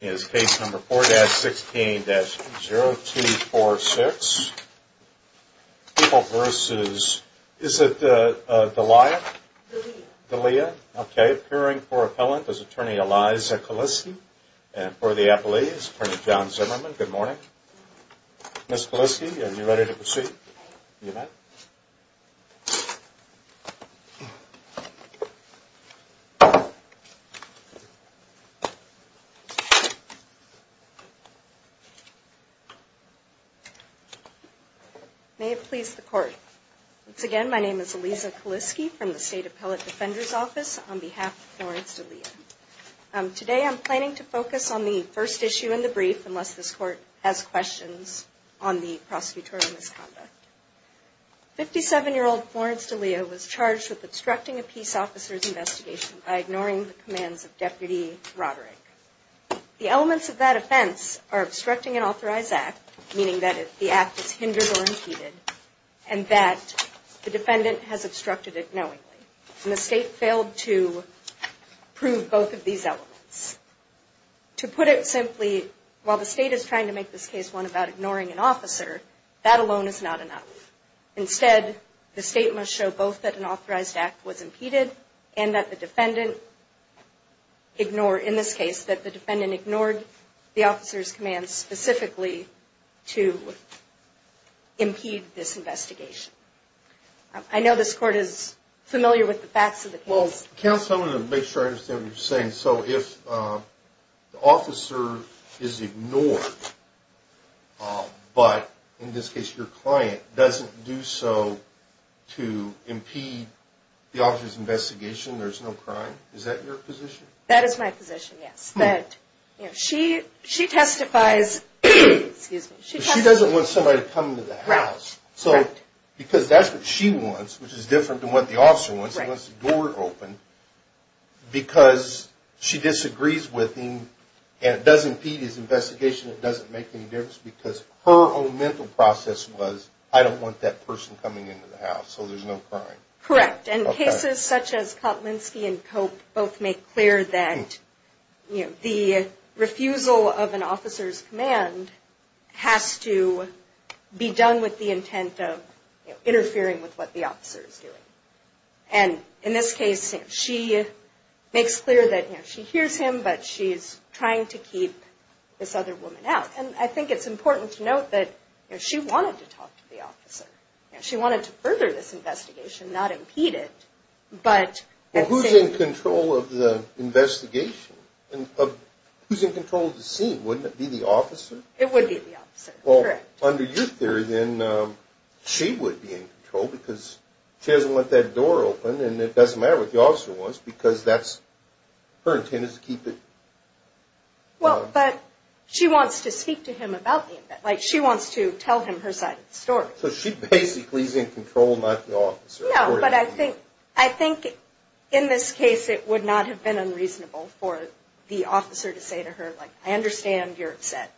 is case number 4-16-0246. People v. Is it D'Elia? D'Elia. Okay. Appearing for appellant is Attorney Eliza Kaliski. And for the appellee is Attorney John Zimmerman. Good morning. Ms. Kaliski, are you ready to proceed? May it please the Court. Once again, my name is Eliza Kaliski from the State Appellate Defender's Office on behalf of Florence D'Elia. Today, I'm planning to focus on the first issue in the brief, unless this Court has questions on the prosecutorial misconduct. Fifty-seven-year-old Florence D'Elia was charged with obstructing a peace officer's investigation by ignoring the commands of Deputy Roderick. The elements of that offense are obstructing an authorized act, meaning that the act is hindered or impeded, and that the defendant has obstructed it knowingly. And the State failed to prove both of these elements. To put it simply, while the State is trying to make this case one about ignoring an officer, that alone is not enough. Instead, the State must show both that an authorized act was impeded and that the defendant ignored the officer's commands specifically to impede this investigation. I know this Court is familiar with the facts of the case. Counsel, I want to make sure I understand what you're saying. So if the officer is ignored, but in this case your client doesn't do so to impede the officer's investigation, there's no crime? Is that your position? That is my position, yes. She testifies... Because that's what she wants, which is different than what the officer wants. He wants the door open because she disagrees with him and it does impede his investigation. It doesn't make any difference because her own mental process was, I don't want that person coming into the house, so there's no crime. Correct. And cases such as Kotlinski and Cope both make clear that the refusal of an officer's command has to be done with the intent of interfering with what the officer is doing. And in this case, she makes clear that she hears him, but she's trying to keep this other woman out. And I think it's important to note that she wanted to talk to the officer. She wanted to further this investigation, not impede it, but... Well, who's in control of the investigation? Who's in control of the scene? Wouldn't it be the officer? It would be the officer, correct. Well, under your theory then, she would be in control because she doesn't want that door open and it doesn't matter what the officer wants because that's her intent is to keep it... Well, but she wants to speak to him about the event. Like, she wants to tell him her side of the story. So she basically is in control, not the officer. No, but I think in this case it would not have been unreasonable for the officer to say to her, like, I understand you're upset.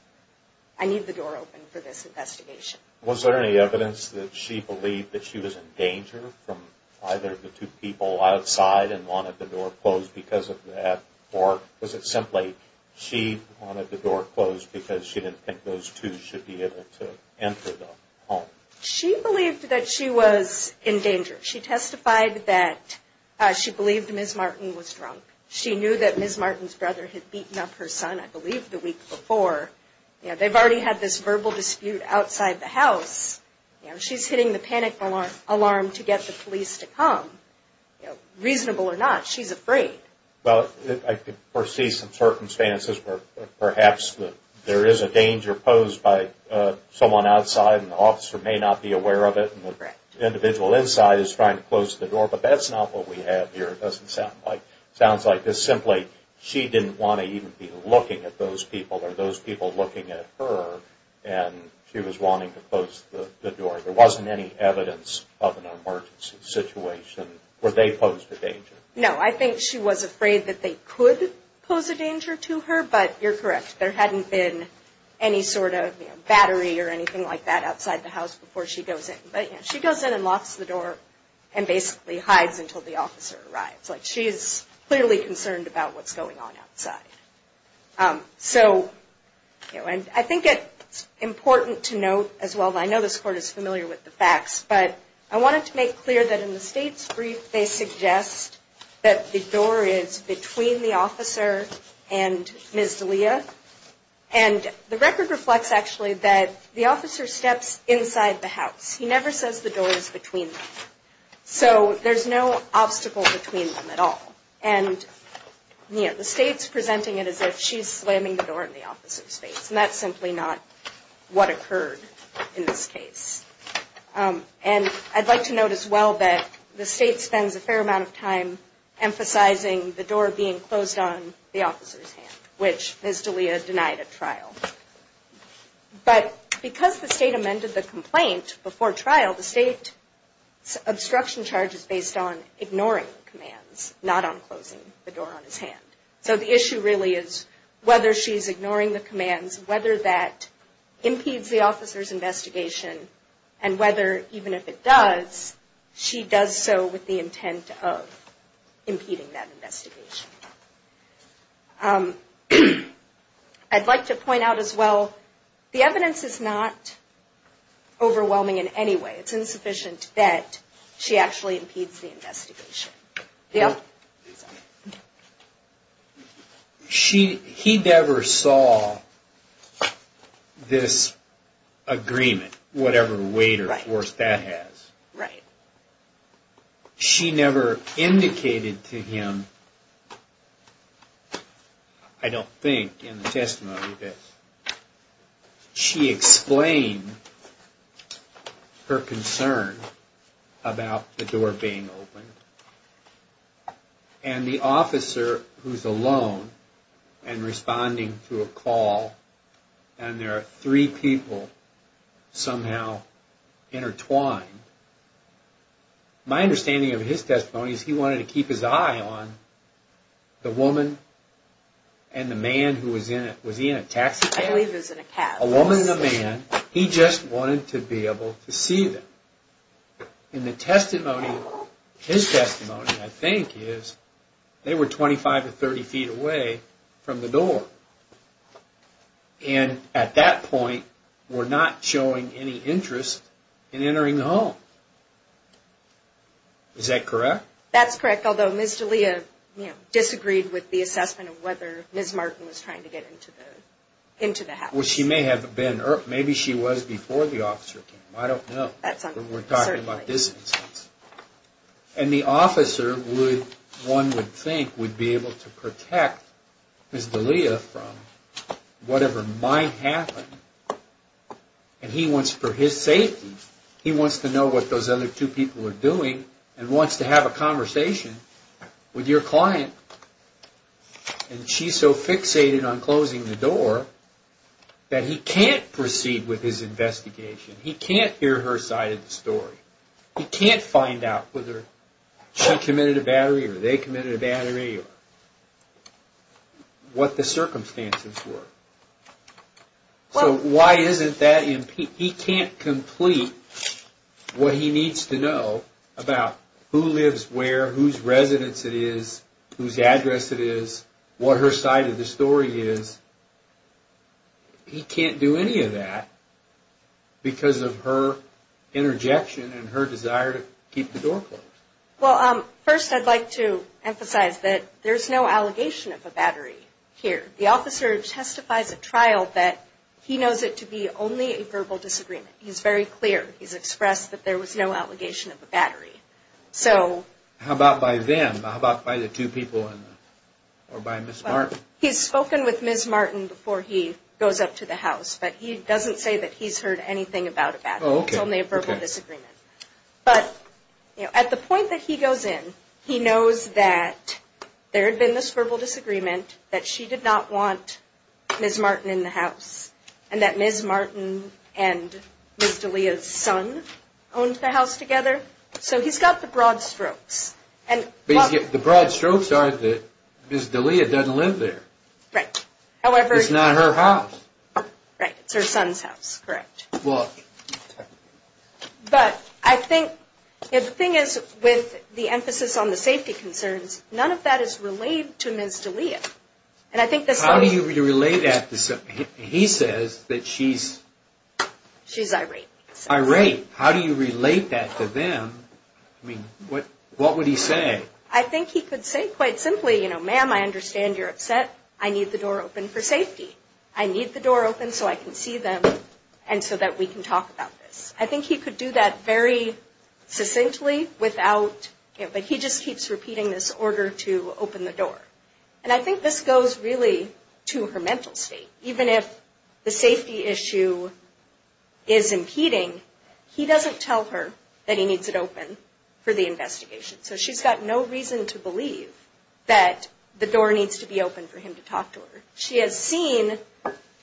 I need the door open for this investigation. Was there any evidence that she believed that she was in danger from either of the two people outside and wanted the door closed because of that? Or was it simply she wanted the door closed because she didn't think those two should be able to enter the home? She believed that she was in danger. She testified that she believed Ms. Martin was drunk. She knew that Ms. Martin's brother had beaten up her son, I believe, the week before. They've already had this verbal dispute outside the house. She's hitting the panic alarm to get the police to come. Reasonable or not, she's afraid. Well, I could foresee some circumstances where perhaps there is a danger posed by someone outside and the officer may not be aware of it and the individual inside is trying to close the door. But that's not what we have here, it doesn't sound like. It sounds like it's simply she didn't want to even be looking at those people or those people looking at her and she was wanting to close the door. There wasn't any evidence of an emergency situation where they posed a danger. No, I think she was afraid that they could pose a danger to her, but you're correct. There hadn't been any sort of battery or anything like that outside the house before she goes in. She goes in and locks the door and basically hides until the officer arrives. She's clearly concerned about what's going on outside. I think it's important to note as well, I know this court is familiar with the facts, but I wanted to make clear that in the state's brief, they suggest that the door is between the officer and Ms. D'Elia. And the record reflects actually that the officer steps inside the house. He never says the door is between them. So there's no obstacle between them at all. And the state's presenting it as if she's slamming the door in the officer's face. And that's simply not what occurred in this case. And I'd like to note as well that the state spends a fair amount of time emphasizing the door being closed on the officer's hand, which Ms. D'Elia denied at trial. But because the state amended the complaint before trial, the state's obstruction charge is based on ignoring the commands, not on closing the door on his hand. So the issue really is whether she's ignoring the commands, whether that impedes the officer's investigation, and whether even if it does, she does so with the intent of impeding that investigation. I'd like to point out as well, the evidence is not overwhelming in any way. It's insufficient that she actually impedes the investigation. Yeah. He never saw this agreement, whatever weight or force that has. Right. She never indicated to him, I don't think in the testimony, She explained her concern about the door being opened. And the officer, who's alone and responding to a call, and there are three people somehow intertwined. My understanding of his testimony is he wanted to keep his eye on the woman and the man who was in it. Was he in a taxi cab? I believe he was in a cab. A woman and a man. He just wanted to be able to see them. In the testimony, his testimony, I think, is they were 25 to 30 feet away from the door. And at that point, were not showing any interest in entering the home. Is that correct? That's correct. Although Ms. D'Elia disagreed with the assessment of whether Ms. Martin was trying to get into the house. Well, she may have been. Maybe she was before the officer came. I don't know. That's uncertain. We're talking about this instance. And the officer, one would think, would be able to protect Ms. D'Elia from whatever might happen. And he wants for his safety. He wants to know what those other two people are doing and wants to have a conversation with your client. And she's so fixated on closing the door that he can't proceed with his investigation. He can't hear her side of the story. He can't find out whether she committed a battery or they committed a battery or what the circumstances were. So why isn't that? He can't complete what he needs to know about who lives where, whose residence it is, whose address it is, what her side of the story is. He can't do any of that because of her interjection and her desire to keep the door closed. Well, first I'd like to emphasize that there's no allegation of a battery here. The officer testifies at trial that he knows it to be only a verbal disagreement. He's very clear. He's expressed that there was no allegation of a battery. How about by them? How about by the two people or by Ms. Martin? He's spoken with Ms. Martin before he goes up to the house, but he doesn't say that he's heard anything about a battery. It's only a verbal disagreement. But at the point that he goes in, he knows that there had been this verbal disagreement, that she did not want Ms. Martin in the house, and that Ms. Martin and Ms. D'Elia's son owned the house together. So he's got the broad strokes. The broad strokes are that Ms. D'Elia doesn't live there. Right. It's not her house. Right. It's her son's house. Correct. But I think the thing is with the emphasis on the safety concerns, none of that is relayed to Ms. D'Elia. How do you relay that? He says that she's... She's irate. Irate. How do you relate that to them? I mean, what would he say? I think he could say quite simply, you know, ma'am, I understand you're upset. I need the door open for safety. I need the door open so I can see them and so that we can talk about this. I think he could do that very succinctly without... But he just keeps repeating this order to open the door. And I think this goes really to her mental state. Even if the safety issue is impeding, he doesn't tell her that he needs it open for the investigation. So she's got no reason to believe that the door needs to be open for him to talk to her. She has seen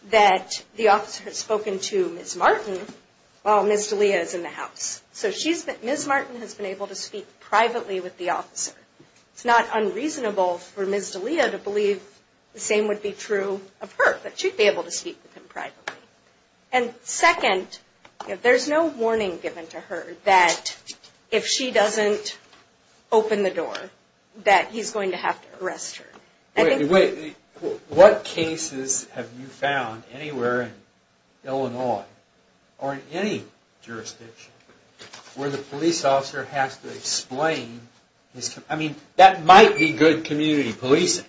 that the officer has spoken to Ms. Martin while Ms. D'Elia is in the house. So Ms. Martin has been able to speak privately with the officer. It's not unreasonable for Ms. D'Elia to believe the same would be true of her, that she'd be able to speak with him privately. And second, there's no warning given to her that if she doesn't open the door, that he's going to have to arrest her. What cases have you found anywhere in Illinois or in any jurisdiction where the police officer has to explain... I mean, that might be good community policing.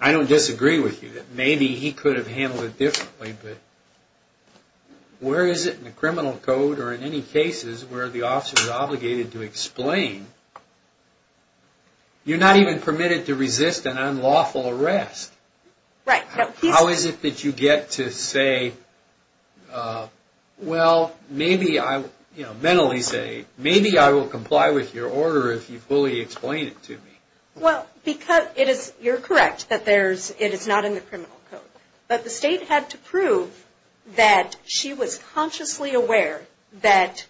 I don't disagree with you that maybe he could have handled it differently. Where is it in the criminal code or in any cases where the officer is obligated to explain? You're not even permitted to resist an unlawful arrest. How is it that you get to say, well, mentally say, maybe I will comply with your order if you fully explain it to me? Well, because you're correct that it is not in the criminal code. But the state had to prove that she was consciously aware that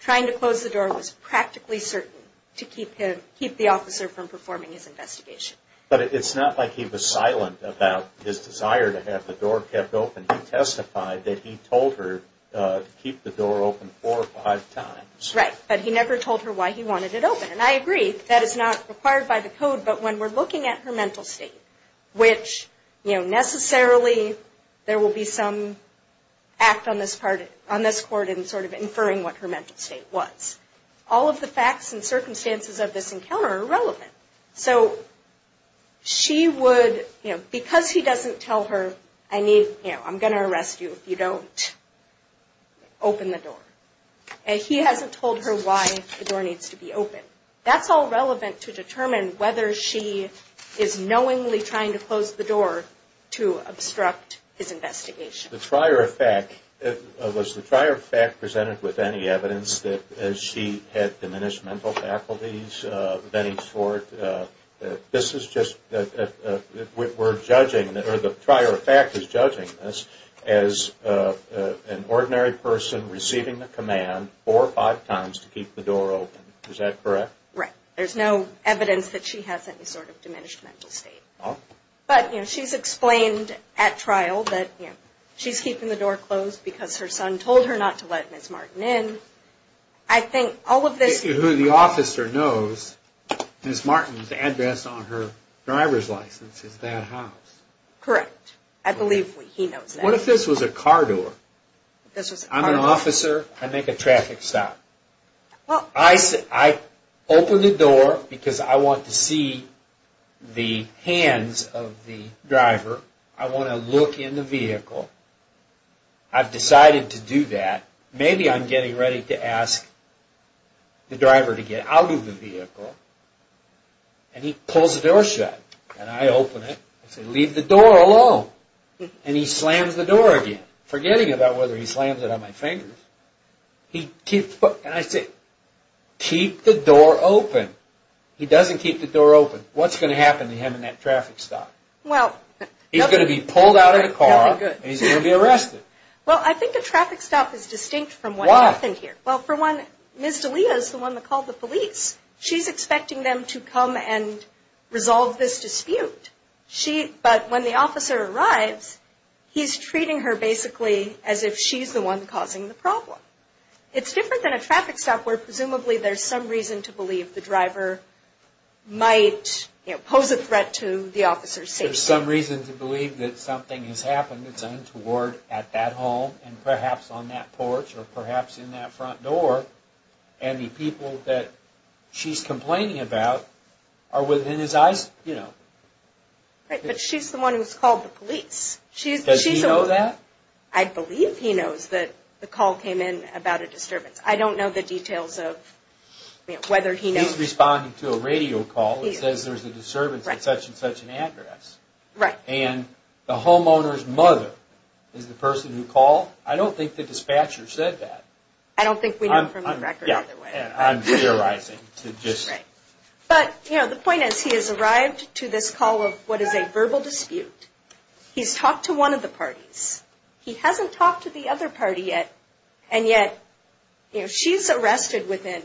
trying to close the door was practically certain to keep the officer from performing his investigation. But it's not like he was silent about his desire to have the door kept open. He testified that he told her to keep the door open four or five times. Right. But he never told her why he wanted it open. And I agree. That is not required by the code. But when we're looking at her mental state, which necessarily there will be some act on this court in sort of inferring what her mental state was, all of the facts and circumstances of this encounter are relevant. So she would, you know, because he doesn't tell her, I need, you know, I'm going to arrest you if you don't open the door. And he hasn't told her why the door needs to be open. That's all relevant to determine whether she is knowingly trying to close the door to obstruct his investigation. The prior fact, was the prior fact presented with any evidence that she had diminished mental faculties of any sort. This is just, we're judging, or the prior fact is judging this as an ordinary person receiving the command four or five times to keep the door open. Is that correct? Right. There's no evidence that she has any sort of diminished mental state. But, you know, she's explained at trial that, you know, she's keeping the door closed because her son told her not to let Ms. Martin in. I think all of this... Who the officer knows, Ms. Martin's address on her driver's license is that house. Correct. I believe he knows that. What if this was a car door? I'm an officer. I make a traffic stop. I open the door because I want to see the hands of the driver. I want to look in the vehicle. I've decided to do that. Maybe I'm getting ready to ask the driver to get out of the vehicle. And he pulls the door shut. And I open it. I say, leave the door alone. And he slams the door again, forgetting about whether he slams it on my fingers. He keeps... And I say, keep the door open. He doesn't keep the door open. What's going to happen to him in that traffic stop? Well... He's going to be pulled out of the car and he's going to be arrested. Well, I think a traffic stop is distinct from what happened here. Why? Well, for one, Ms. Delia is the one that called the police. She's expecting them to come and resolve this dispute. But when the officer arrives, he's treating her basically as if she's the one causing the problem. It's different than a traffic stop where presumably there's some reason to believe the driver might pose a threat to the officer's safety. There's some reason to believe that something has happened that's untoward at that home, and perhaps on that porch, or perhaps in that front door. And the people that she's complaining about are within his eyes, you know. Right, but she's the one who's called the police. Does he know that? I believe he knows that the call came in about a disturbance. I don't know the details of whether he knows. He's responding to a radio call that says there's a disturbance at such and such an address. And the homeowner's mother is the person who called? I don't think the dispatcher said that. I don't think we know from the record either way. I'm theorizing. But, you know, the point is he has arrived to this call of what is a verbal dispute. He's talked to one of the parties. He hasn't talked to the other party yet. And yet, you know, she's arrested within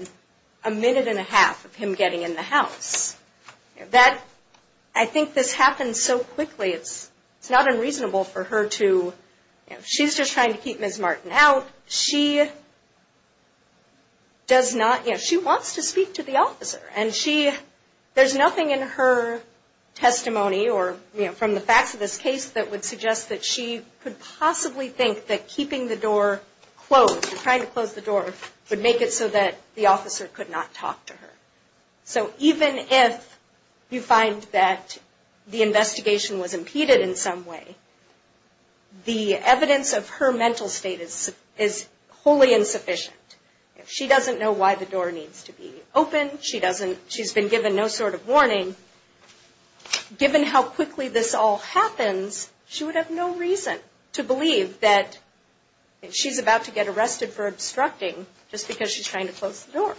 a minute and a half of him getting in the house. That, I think this happens so quickly, it's not unreasonable for her to, you know, she's just trying to keep Ms. Martin out. She does not, you know, she wants to speak to the officer. And she, there's nothing in her testimony or, you know, from the facts of this case that would suggest that she could possibly think that keeping the door closed, trying to close the door, would make it so that the officer could not talk to her. So even if you find that the investigation was impeded in some way, the evidence of her mental state is wholly insufficient. If she doesn't know why the door needs to be open, she's been given no sort of warning, given how quickly this all happens, she would have no reason to believe that she's about to get arrested for obstructing just because she's trying to close the door.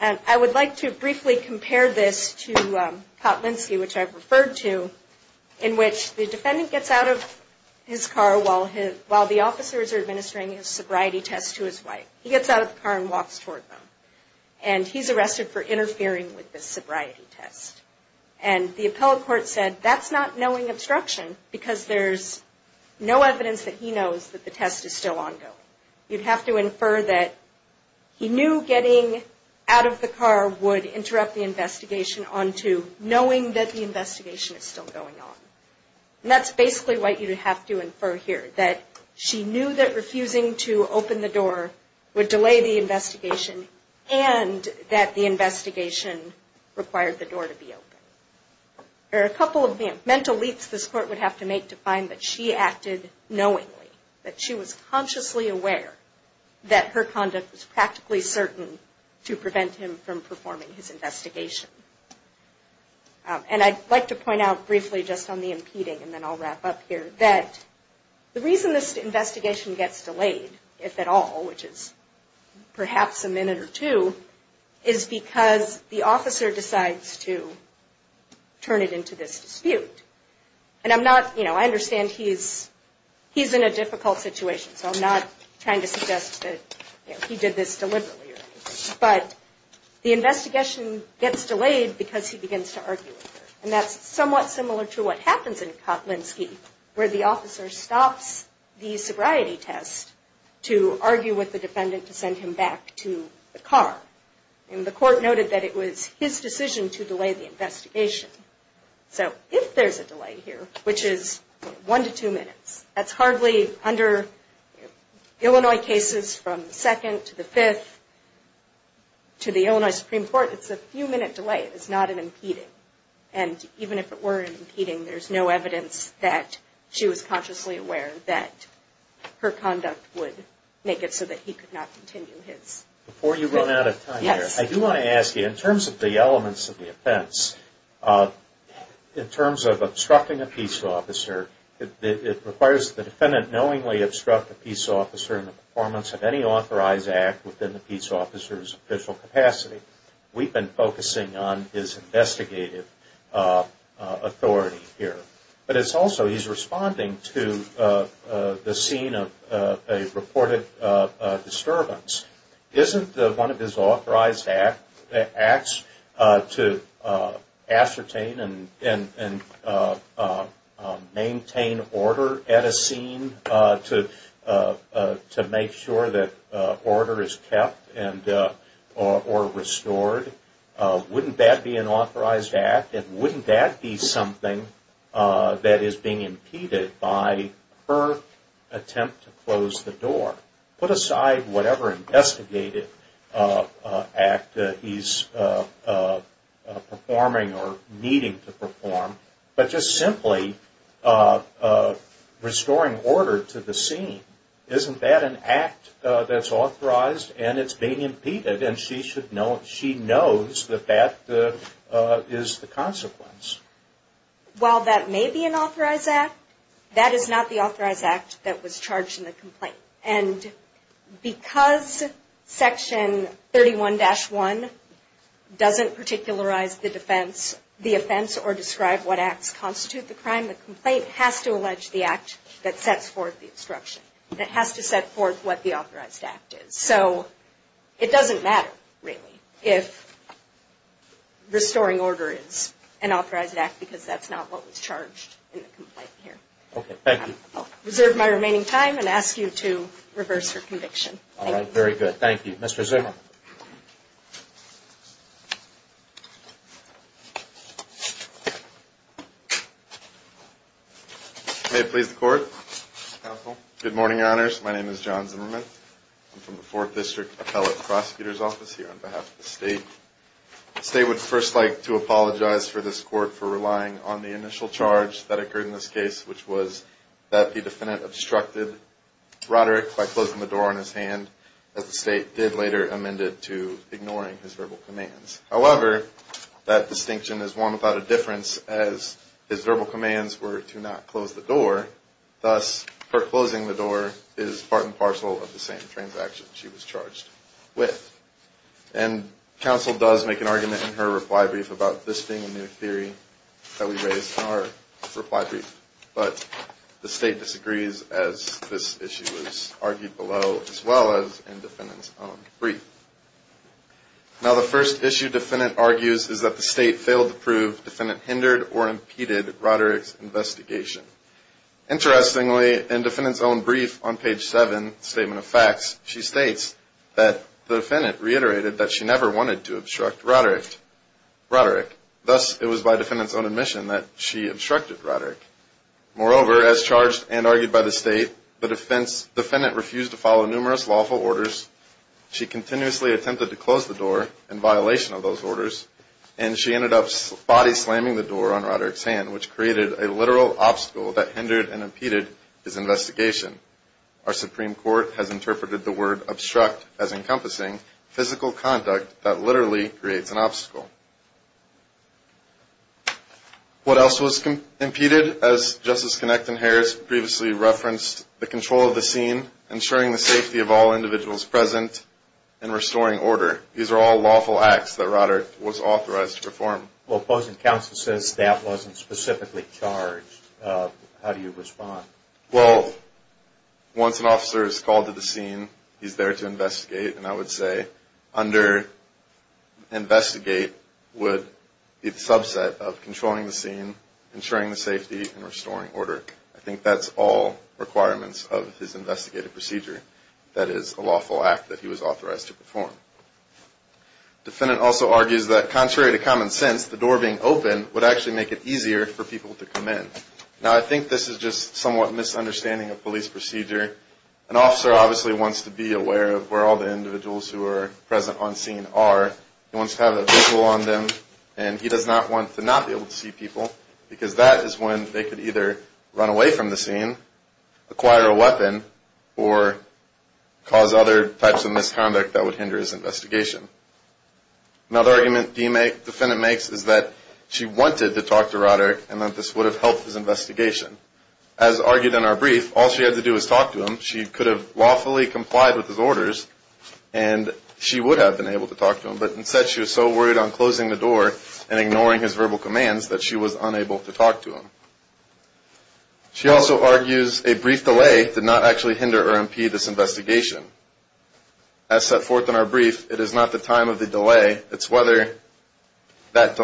And I would like to briefly compare this to Kotlinski, which I've referred to, in which the defendant gets out of his car while the officers are administering a sobriety test to his wife. He gets out of the car and walks toward them. And he's arrested for interfering with the sobriety test. And the appellate court said that's not knowing obstruction, because there's no evidence that he knows that the test is still ongoing. You'd have to infer that he knew getting out of the car would interrupt the investigation onto knowing that the investigation is still going on. And that's basically what you'd have to infer here, that she knew that refusing to open the door would delay the investigation and that the investigation required the door to be open. There are a couple of mental leaps this court would have to make to find that she acted knowingly, that she was consciously aware that her conduct was practically certain to prevent him from performing his investigation. And I'd like to point out briefly just on the impeding, and then I'll wrap up here, that the reason this investigation gets delayed, if at all, which is perhaps a minute or two, is because the officer decides to turn it into this dispute. And I'm not, you know, I understand he's in a difficult situation, so I'm not trying to suggest that he did this deliberately or anything. But the investigation gets delayed because he begins to argue with her. And that's somewhat similar to what happens in Kotlinski, where the officer stops the sobriety test to argue with the defendant to send him back to the car. And the court noted that it was his decision to delay the investigation. So if there's a delay here, which is one to two minutes, that's hardly under Illinois cases from the second to the fifth to the Illinois Supreme Court, it's a few minute delay, it's not an impeding. And even if it were an impeding, there's no evidence that she was consciously aware that her conduct would make it so that he could not continue his. Before you run out of time here, I do want to ask you, in terms of the elements of the offense, in terms of obstructing a peace officer, it requires the defendant knowingly obstruct the peace officer in the performance of any authorized act within the peace officer's official capacity. We've been focusing on his investigative authority here. But it's also, he's responding to the scene of a reported disturbance. Isn't one of his authorized acts to ascertain and maintain order at a scene to make sure that order is kept or restored? Wouldn't that be an authorized act? And wouldn't that be something that is being impeded by her attempt to close the door? Put aside whatever investigative act he's performing or needing to perform, but just simply restoring order to the scene. Isn't that an act that's authorized and it's being impeded? And she knows that that is the consequence. While that may be an authorized act, that is not the authorized act that was charged in the complaint. And because Section 31-1 doesn't particularize the offense or describe what acts constitute the crime, the complaint has to allege the act that sets forth the instruction, that has to set forth what the authorized act is. So it doesn't matter, really, if restoring order is an authorized act because that's not what was charged in the complaint here. Okay. Thank you. I'll reserve my remaining time and ask you to reverse your conviction. All right. Very good. Thank you. Mr. Zimmerman. May it please the Court, Counsel. Good morning, Honors. My name is John Zimmerman. I'm from the Fourth District Appellate Prosecutor's Office here on behalf of the State. The State would first like to apologize for this Court for relying on the initial charge that occurred in this case, which was that the defendant obstructed Roderick by closing the door on his hand, as the State did later amended to ignoring his verbal commands. However, that distinction is one without a difference as his verbal commands were to not close the door. Thus, her closing the door is part and parcel of the same transaction she was charged with. And Counsel does make an argument in her reply brief about this being a new theory that we raised in our reply brief. But the State disagrees as this issue was argued below as well as in the defendant's own brief. Now, the first issue defendant argues is that the State failed to prove defendant hindered or impeded Roderick's investigation. Interestingly, in defendant's own brief on page 7, Statement of Facts, she states that the defendant reiterated that she never wanted to obstruct Roderick. Thus, it was by defendant's own admission that she obstructed Roderick. Moreover, as charged and argued by the State, the defendant refused to follow numerous lawful orders. She continuously attempted to close the door in violation of those orders, and she ended up body slamming the door on Roderick's hand, which created a literal obstacle that hindered and impeded his investigation. Our Supreme Court has interpreted the word obstruct as encompassing physical conduct that literally creates an obstacle. What else was impeded? As Justice Connecton-Harris previously referenced, the control of the scene, ensuring the safety of all individuals present, and restoring order. These are all lawful acts that Roderick was authorized to perform. Well, opposing counsel says that wasn't specifically charged. How do you respond? Well, once an officer is called to the scene, he's there to investigate. And I would say under-investigate would be the subset of controlling the scene, ensuring the safety, and restoring order. I think that's all requirements of his investigative procedure. That is a lawful act that he was authorized to perform. Defendant also argues that contrary to common sense, the door being open would actually make it easier for people to come in. Now, I think this is just somewhat misunderstanding of police procedure. An officer obviously wants to be aware of where all the individuals who are present on scene are. He wants to have a visual on them, and he does not want to not be able to see people, because that is when they could either run away from the scene, acquire a weapon, or cause other types of misconduct that would hinder his investigation. Another argument the defendant makes is that she wanted to talk to Roderick and that this would have helped his investigation. As argued in our brief, all she had to do was talk to him. She could have lawfully complied with his orders, and she would have been able to talk to him. But instead, she was so worried on closing the door and ignoring his verbal commands that she was unable to talk to him. She also argues a brief delay did not actually hinder or impede this investigation. As set forth in our brief, it is not the time of the delay. It is whether that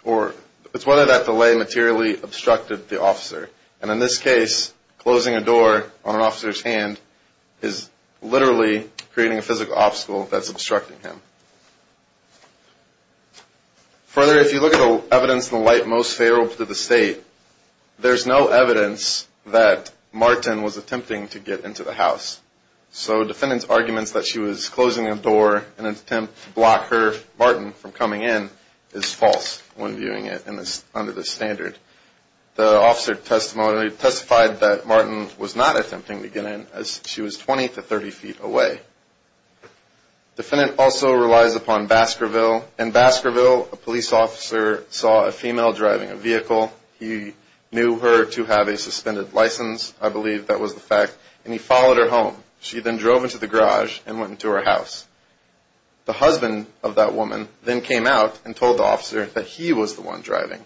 delay materially obstructed the officer. And in this case, closing a door on an officer's hand is literally creating a physical obstacle that is obstructing him. Further, if you look at the evidence in the light most favorable to the State, there is no evidence that Martin was attempting to get into the house. So defendant's arguments that she was closing a door in an attempt to block Martin from coming in is false when viewing it under this standard. The officer testified that Martin was not attempting to get in as she was 20 to 30 feet away. Defendant also relies upon Baskerville. In Baskerville, a police officer saw a female driving a vehicle. He knew her to have a suspended license, I believe that was the fact. And he followed her home. She then drove into the garage and went into her house. The husband of that woman then came out and told the officer that he was the one driving.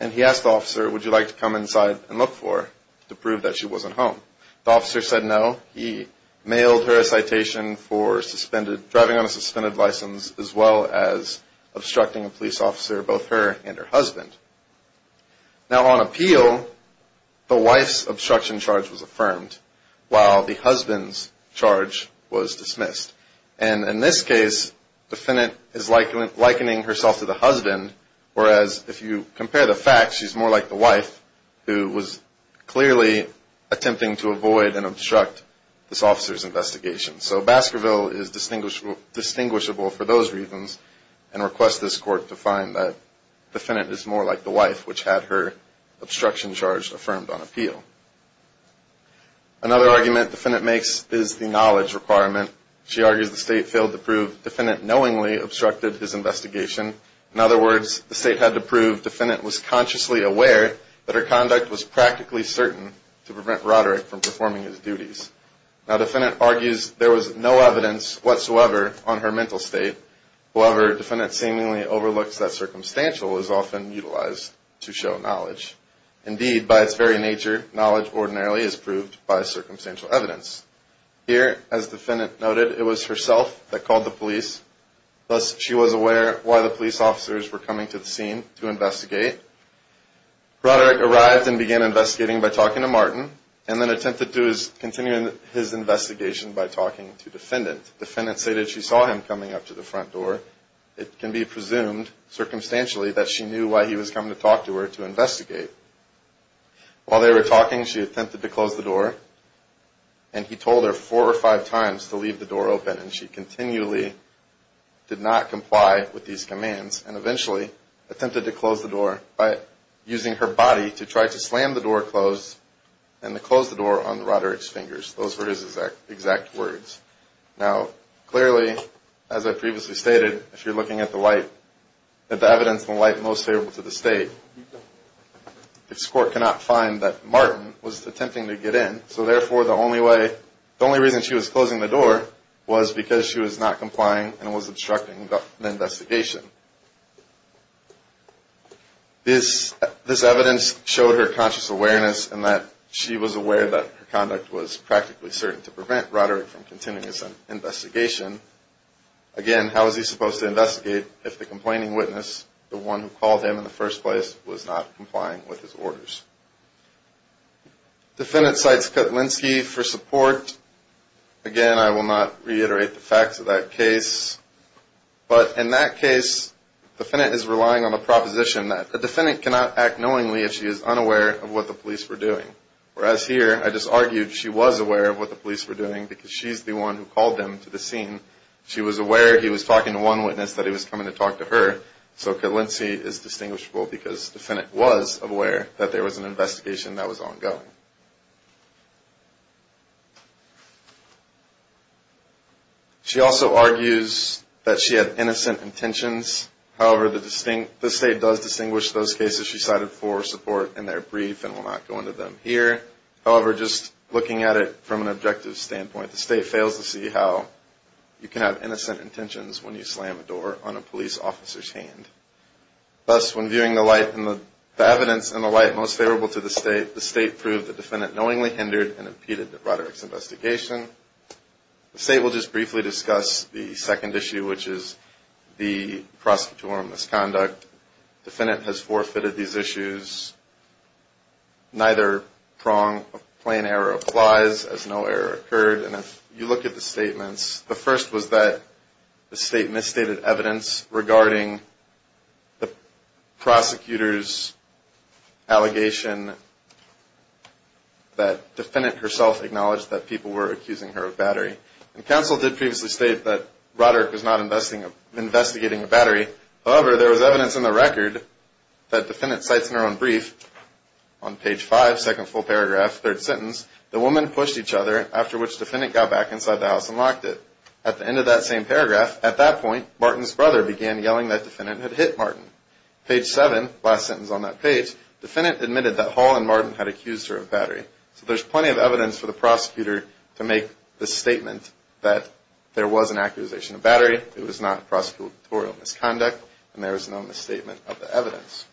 And he asked the officer, would you like to come inside and look for her to prove that she wasn't home? The officer said no. He mailed her a citation for driving on a suspended license as well as obstructing a police officer, both her and her husband. Now on appeal, the wife's obstruction charge was affirmed while the husband's charge was dismissed. And in this case, defendant is likening herself to the husband, whereas if you compare the facts, she's more like the wife who was clearly attempting to avoid and obstruct this officer's investigation. So Baskerville is distinguishable for those reasons and requests this court to find that defendant is more like the wife which had her obstruction charge affirmed on appeal. Another argument defendant makes is the knowledge requirement. She argues the state failed to prove defendant knowingly obstructed his investigation. In other words, the state had to prove defendant was consciously aware that her conduct was practically certain to prevent Roderick from performing his duties. Now defendant argues there was no evidence whatsoever on her mental state. However, defendant seemingly overlooks that circumstantial is often utilized to show knowledge. Indeed, by its very nature, knowledge ordinarily is proved by circumstantial evidence. Here, as defendant noted, it was herself that called the police, thus she was aware why the police officers were coming to the scene to investigate. Roderick arrived and began investigating by talking to Martin, and then attempted to continue his investigation by talking to defendant. Defendant stated she saw him coming up to the front door. It can be presumed circumstantially that she knew why he was coming to talk to her to investigate. While they were talking, she attempted to close the door, and he told her four or five times to leave the door open, and she continually did not comply with these commands, and eventually attempted to close the door by using her body to try to slam the door closed and to close the door on Roderick's fingers. Those were his exact words. Now clearly, as I previously stated, if you're looking at the evidence in light most favorable to the state, this court cannot find that Martin was attempting to get in, so therefore the only reason she was closing the door was because she was not complying and was obstructing the investigation. This evidence showed her conscious awareness and that she was aware that her conduct was practically certain to prevent Roderick from continuing his investigation. Again, how was he supposed to investigate if the complaining witness, the one who called him in the first place, was not complying with his orders? Defendant cites Kutlinski for support. Again, I will not reiterate the facts of that case, but in that case, the defendant is relying on the proposition that the defendant cannot act knowingly if she is unaware of what the police were doing, whereas here I just argued she was aware of what the police were doing because she's the one who called them to the scene. She was aware he was talking to one witness that he was coming to talk to her, so Kutlinski is distinguishable because the defendant was aware that there was an investigation that was ongoing. She also argues that she had innocent intentions. However, the state does distinguish those cases she cited for support in their brief and will not go into them here. However, just looking at it from an objective standpoint, the state fails to see how you can have innocent intentions when you slam a door on a police officer's hand. Thus, when viewing the evidence in the light most favorable to the state, the state proved the defendant knowingly hindered and impeded Roderick's investigation. The state will just briefly discuss the second issue, which is the prosecutorial misconduct. The defendant has forfeited these issues. Neither prong of plain error applies, as no error occurred. And if you look at the statements, the first was that the state misstated evidence regarding the prosecutor's allegation that the defendant herself acknowledged that people were accusing her of battery. And counsel did previously state that Roderick was not investigating a battery. However, there was evidence in the record that the defendant cites in her own brief, on page 5, second full paragraph, third sentence, the woman pushed each other, after which the defendant got back inside the house and locked it. At the end of that same paragraph, at that point, Martin's brother began yelling that the defendant had hit Martin. Page 7, last sentence on that page, the defendant admitted that Hall and Martin had accused her of battery. So there's plenty of evidence for the prosecutor to make the statement that there was an accusation of battery, it was not prosecutorial misconduct, and there is no misstatement of the evidence.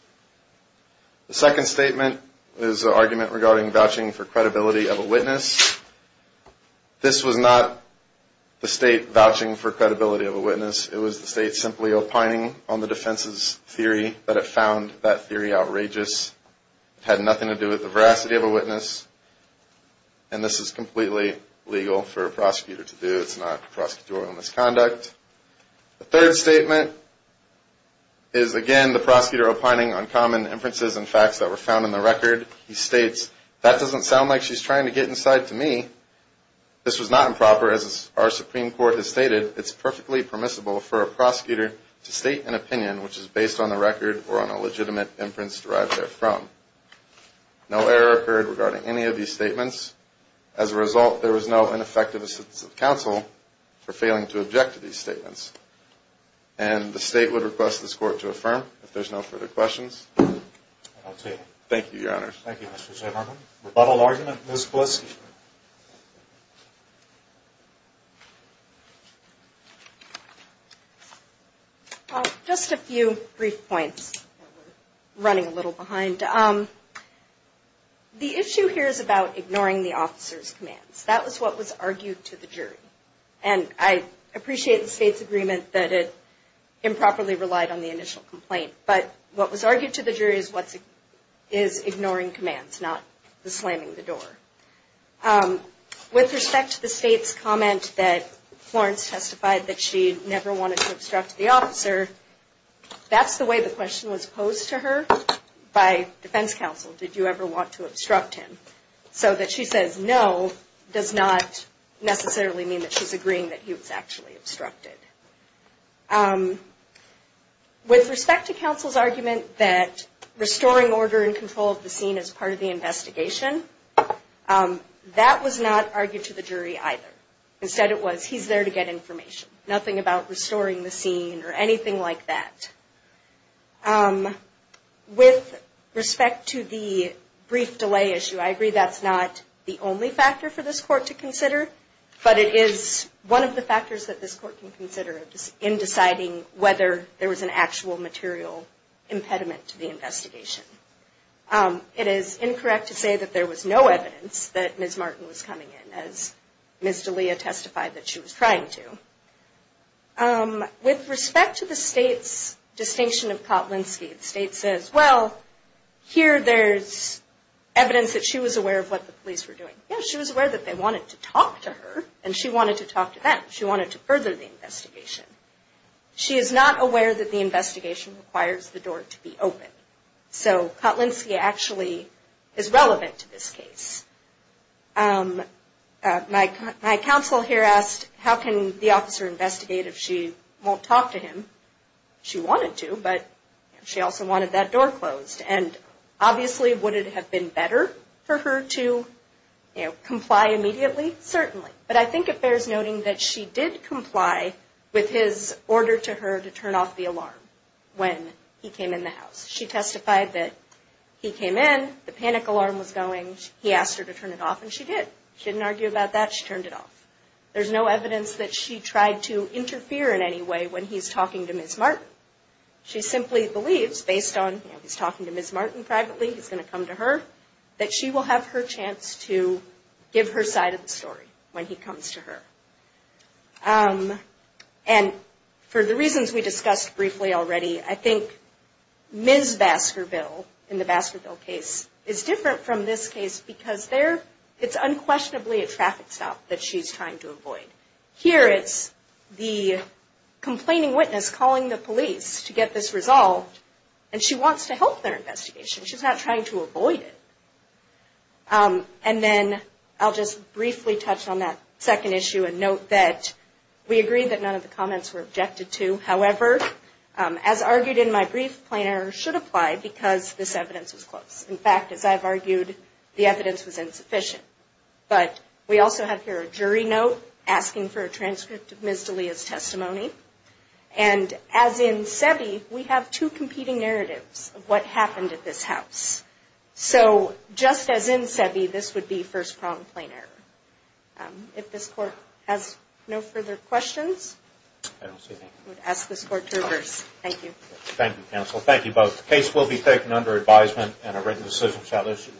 The second statement is an argument regarding vouching for credibility of a witness. This was not the state vouching for credibility of a witness. It was the state simply opining on the defense's theory that it found that theory outrageous. It had nothing to do with the veracity of a witness. And this is completely legal for a prosecutor to do. It's not prosecutorial misconduct. The third statement is again the prosecutor opining on common inferences and facts that were found in the record. He states, that doesn't sound like she's trying to get inside to me. This was not improper, as our Supreme Court has stated. It's perfectly permissible for a prosecutor to state an opinion which is based on the record or on a legitimate inference derived therefrom. No error occurred regarding any of these statements. As a result, there was no ineffective assistance of counsel for failing to object to these statements. And the state would request this court to affirm if there's no further questions. Thank you, Your Honors. Thank you, Mr. Chairman. Rebuttal argument, Ms. Polisky. Just a few brief points. We're running a little behind. And the issue here is about ignoring the officer's commands. That was what was argued to the jury. And I appreciate the state's agreement that it improperly relied on the initial complaint. But what was argued to the jury is ignoring commands, not slamming the door. With respect to the state's comment that Florence testified that she never wanted to obstruct the officer, that's the way the question was posed to her by defense counsel. Did you ever want to obstruct him? So that she says no does not necessarily mean that she's agreeing that he was actually obstructed. With respect to counsel's argument that restoring order and control of the scene is part of the investigation, that was not argued to the jury either. Instead it was, he's there to get information. Nothing about restoring the scene or anything like that. With respect to the brief delay issue, I agree that's not the only factor for this court to consider. But it is one of the factors that this court can consider in deciding whether there was an actual material impediment to the investigation. It is incorrect to say that there was no evidence that Ms. Martin was coming in, as Ms. D'Elia testified that she was trying to. With respect to the state's distinction of Kotlinski, the state says, well, here there's evidence that she was aware of what the police were doing. Yes, she was aware that they wanted to talk to her, and she wanted to talk to them. She wanted to further the investigation. She is not aware that the investigation requires the door to be open. So Kotlinski actually is relevant to this case. My counsel here asked, how can the officer investigate if she won't talk to him? She wanted to, but she also wanted that door closed. And obviously would it have been better for her to comply immediately? Certainly. But I think it bears noting that she did comply with his order to her to turn off the alarm when he came in the house. She testified that he came in, the panic alarm was going, he asked her to turn it off, and she did. She didn't argue about that. She turned it off. There's no evidence that she tried to interfere in any way when he's talking to Ms. Martin. She simply believes, based on he's talking to Ms. Martin privately, he's going to come to her, that she will have her chance to give her side of the story when he comes to her. And for the reasons we discussed briefly already, I think Ms. Baskerville, in the Baskerville case, is different from this case because it's unquestionably a traffic stop that she's trying to avoid. Here it's the complaining witness calling the police to get this resolved, and she wants to help their investigation. She's not trying to avoid it. And then I'll just briefly touch on that second issue and note that we agree that none of the comments were objected to. However, as argued in my brief, plain error should apply because this evidence was close. In fact, as I've argued, the evidence was insufficient. But we also have here a jury note asking for a transcript of Ms. D'Elia's testimony. And as in SEBI, we have two competing narratives of what happened at this house. So just as in SEBI, this would be first-pronged plain error. If this Court has no further questions, I would ask this Court to reverse. Thank you. Thank you, counsel. Thank you both. The case will be taken under advisement and a written decision shall issue.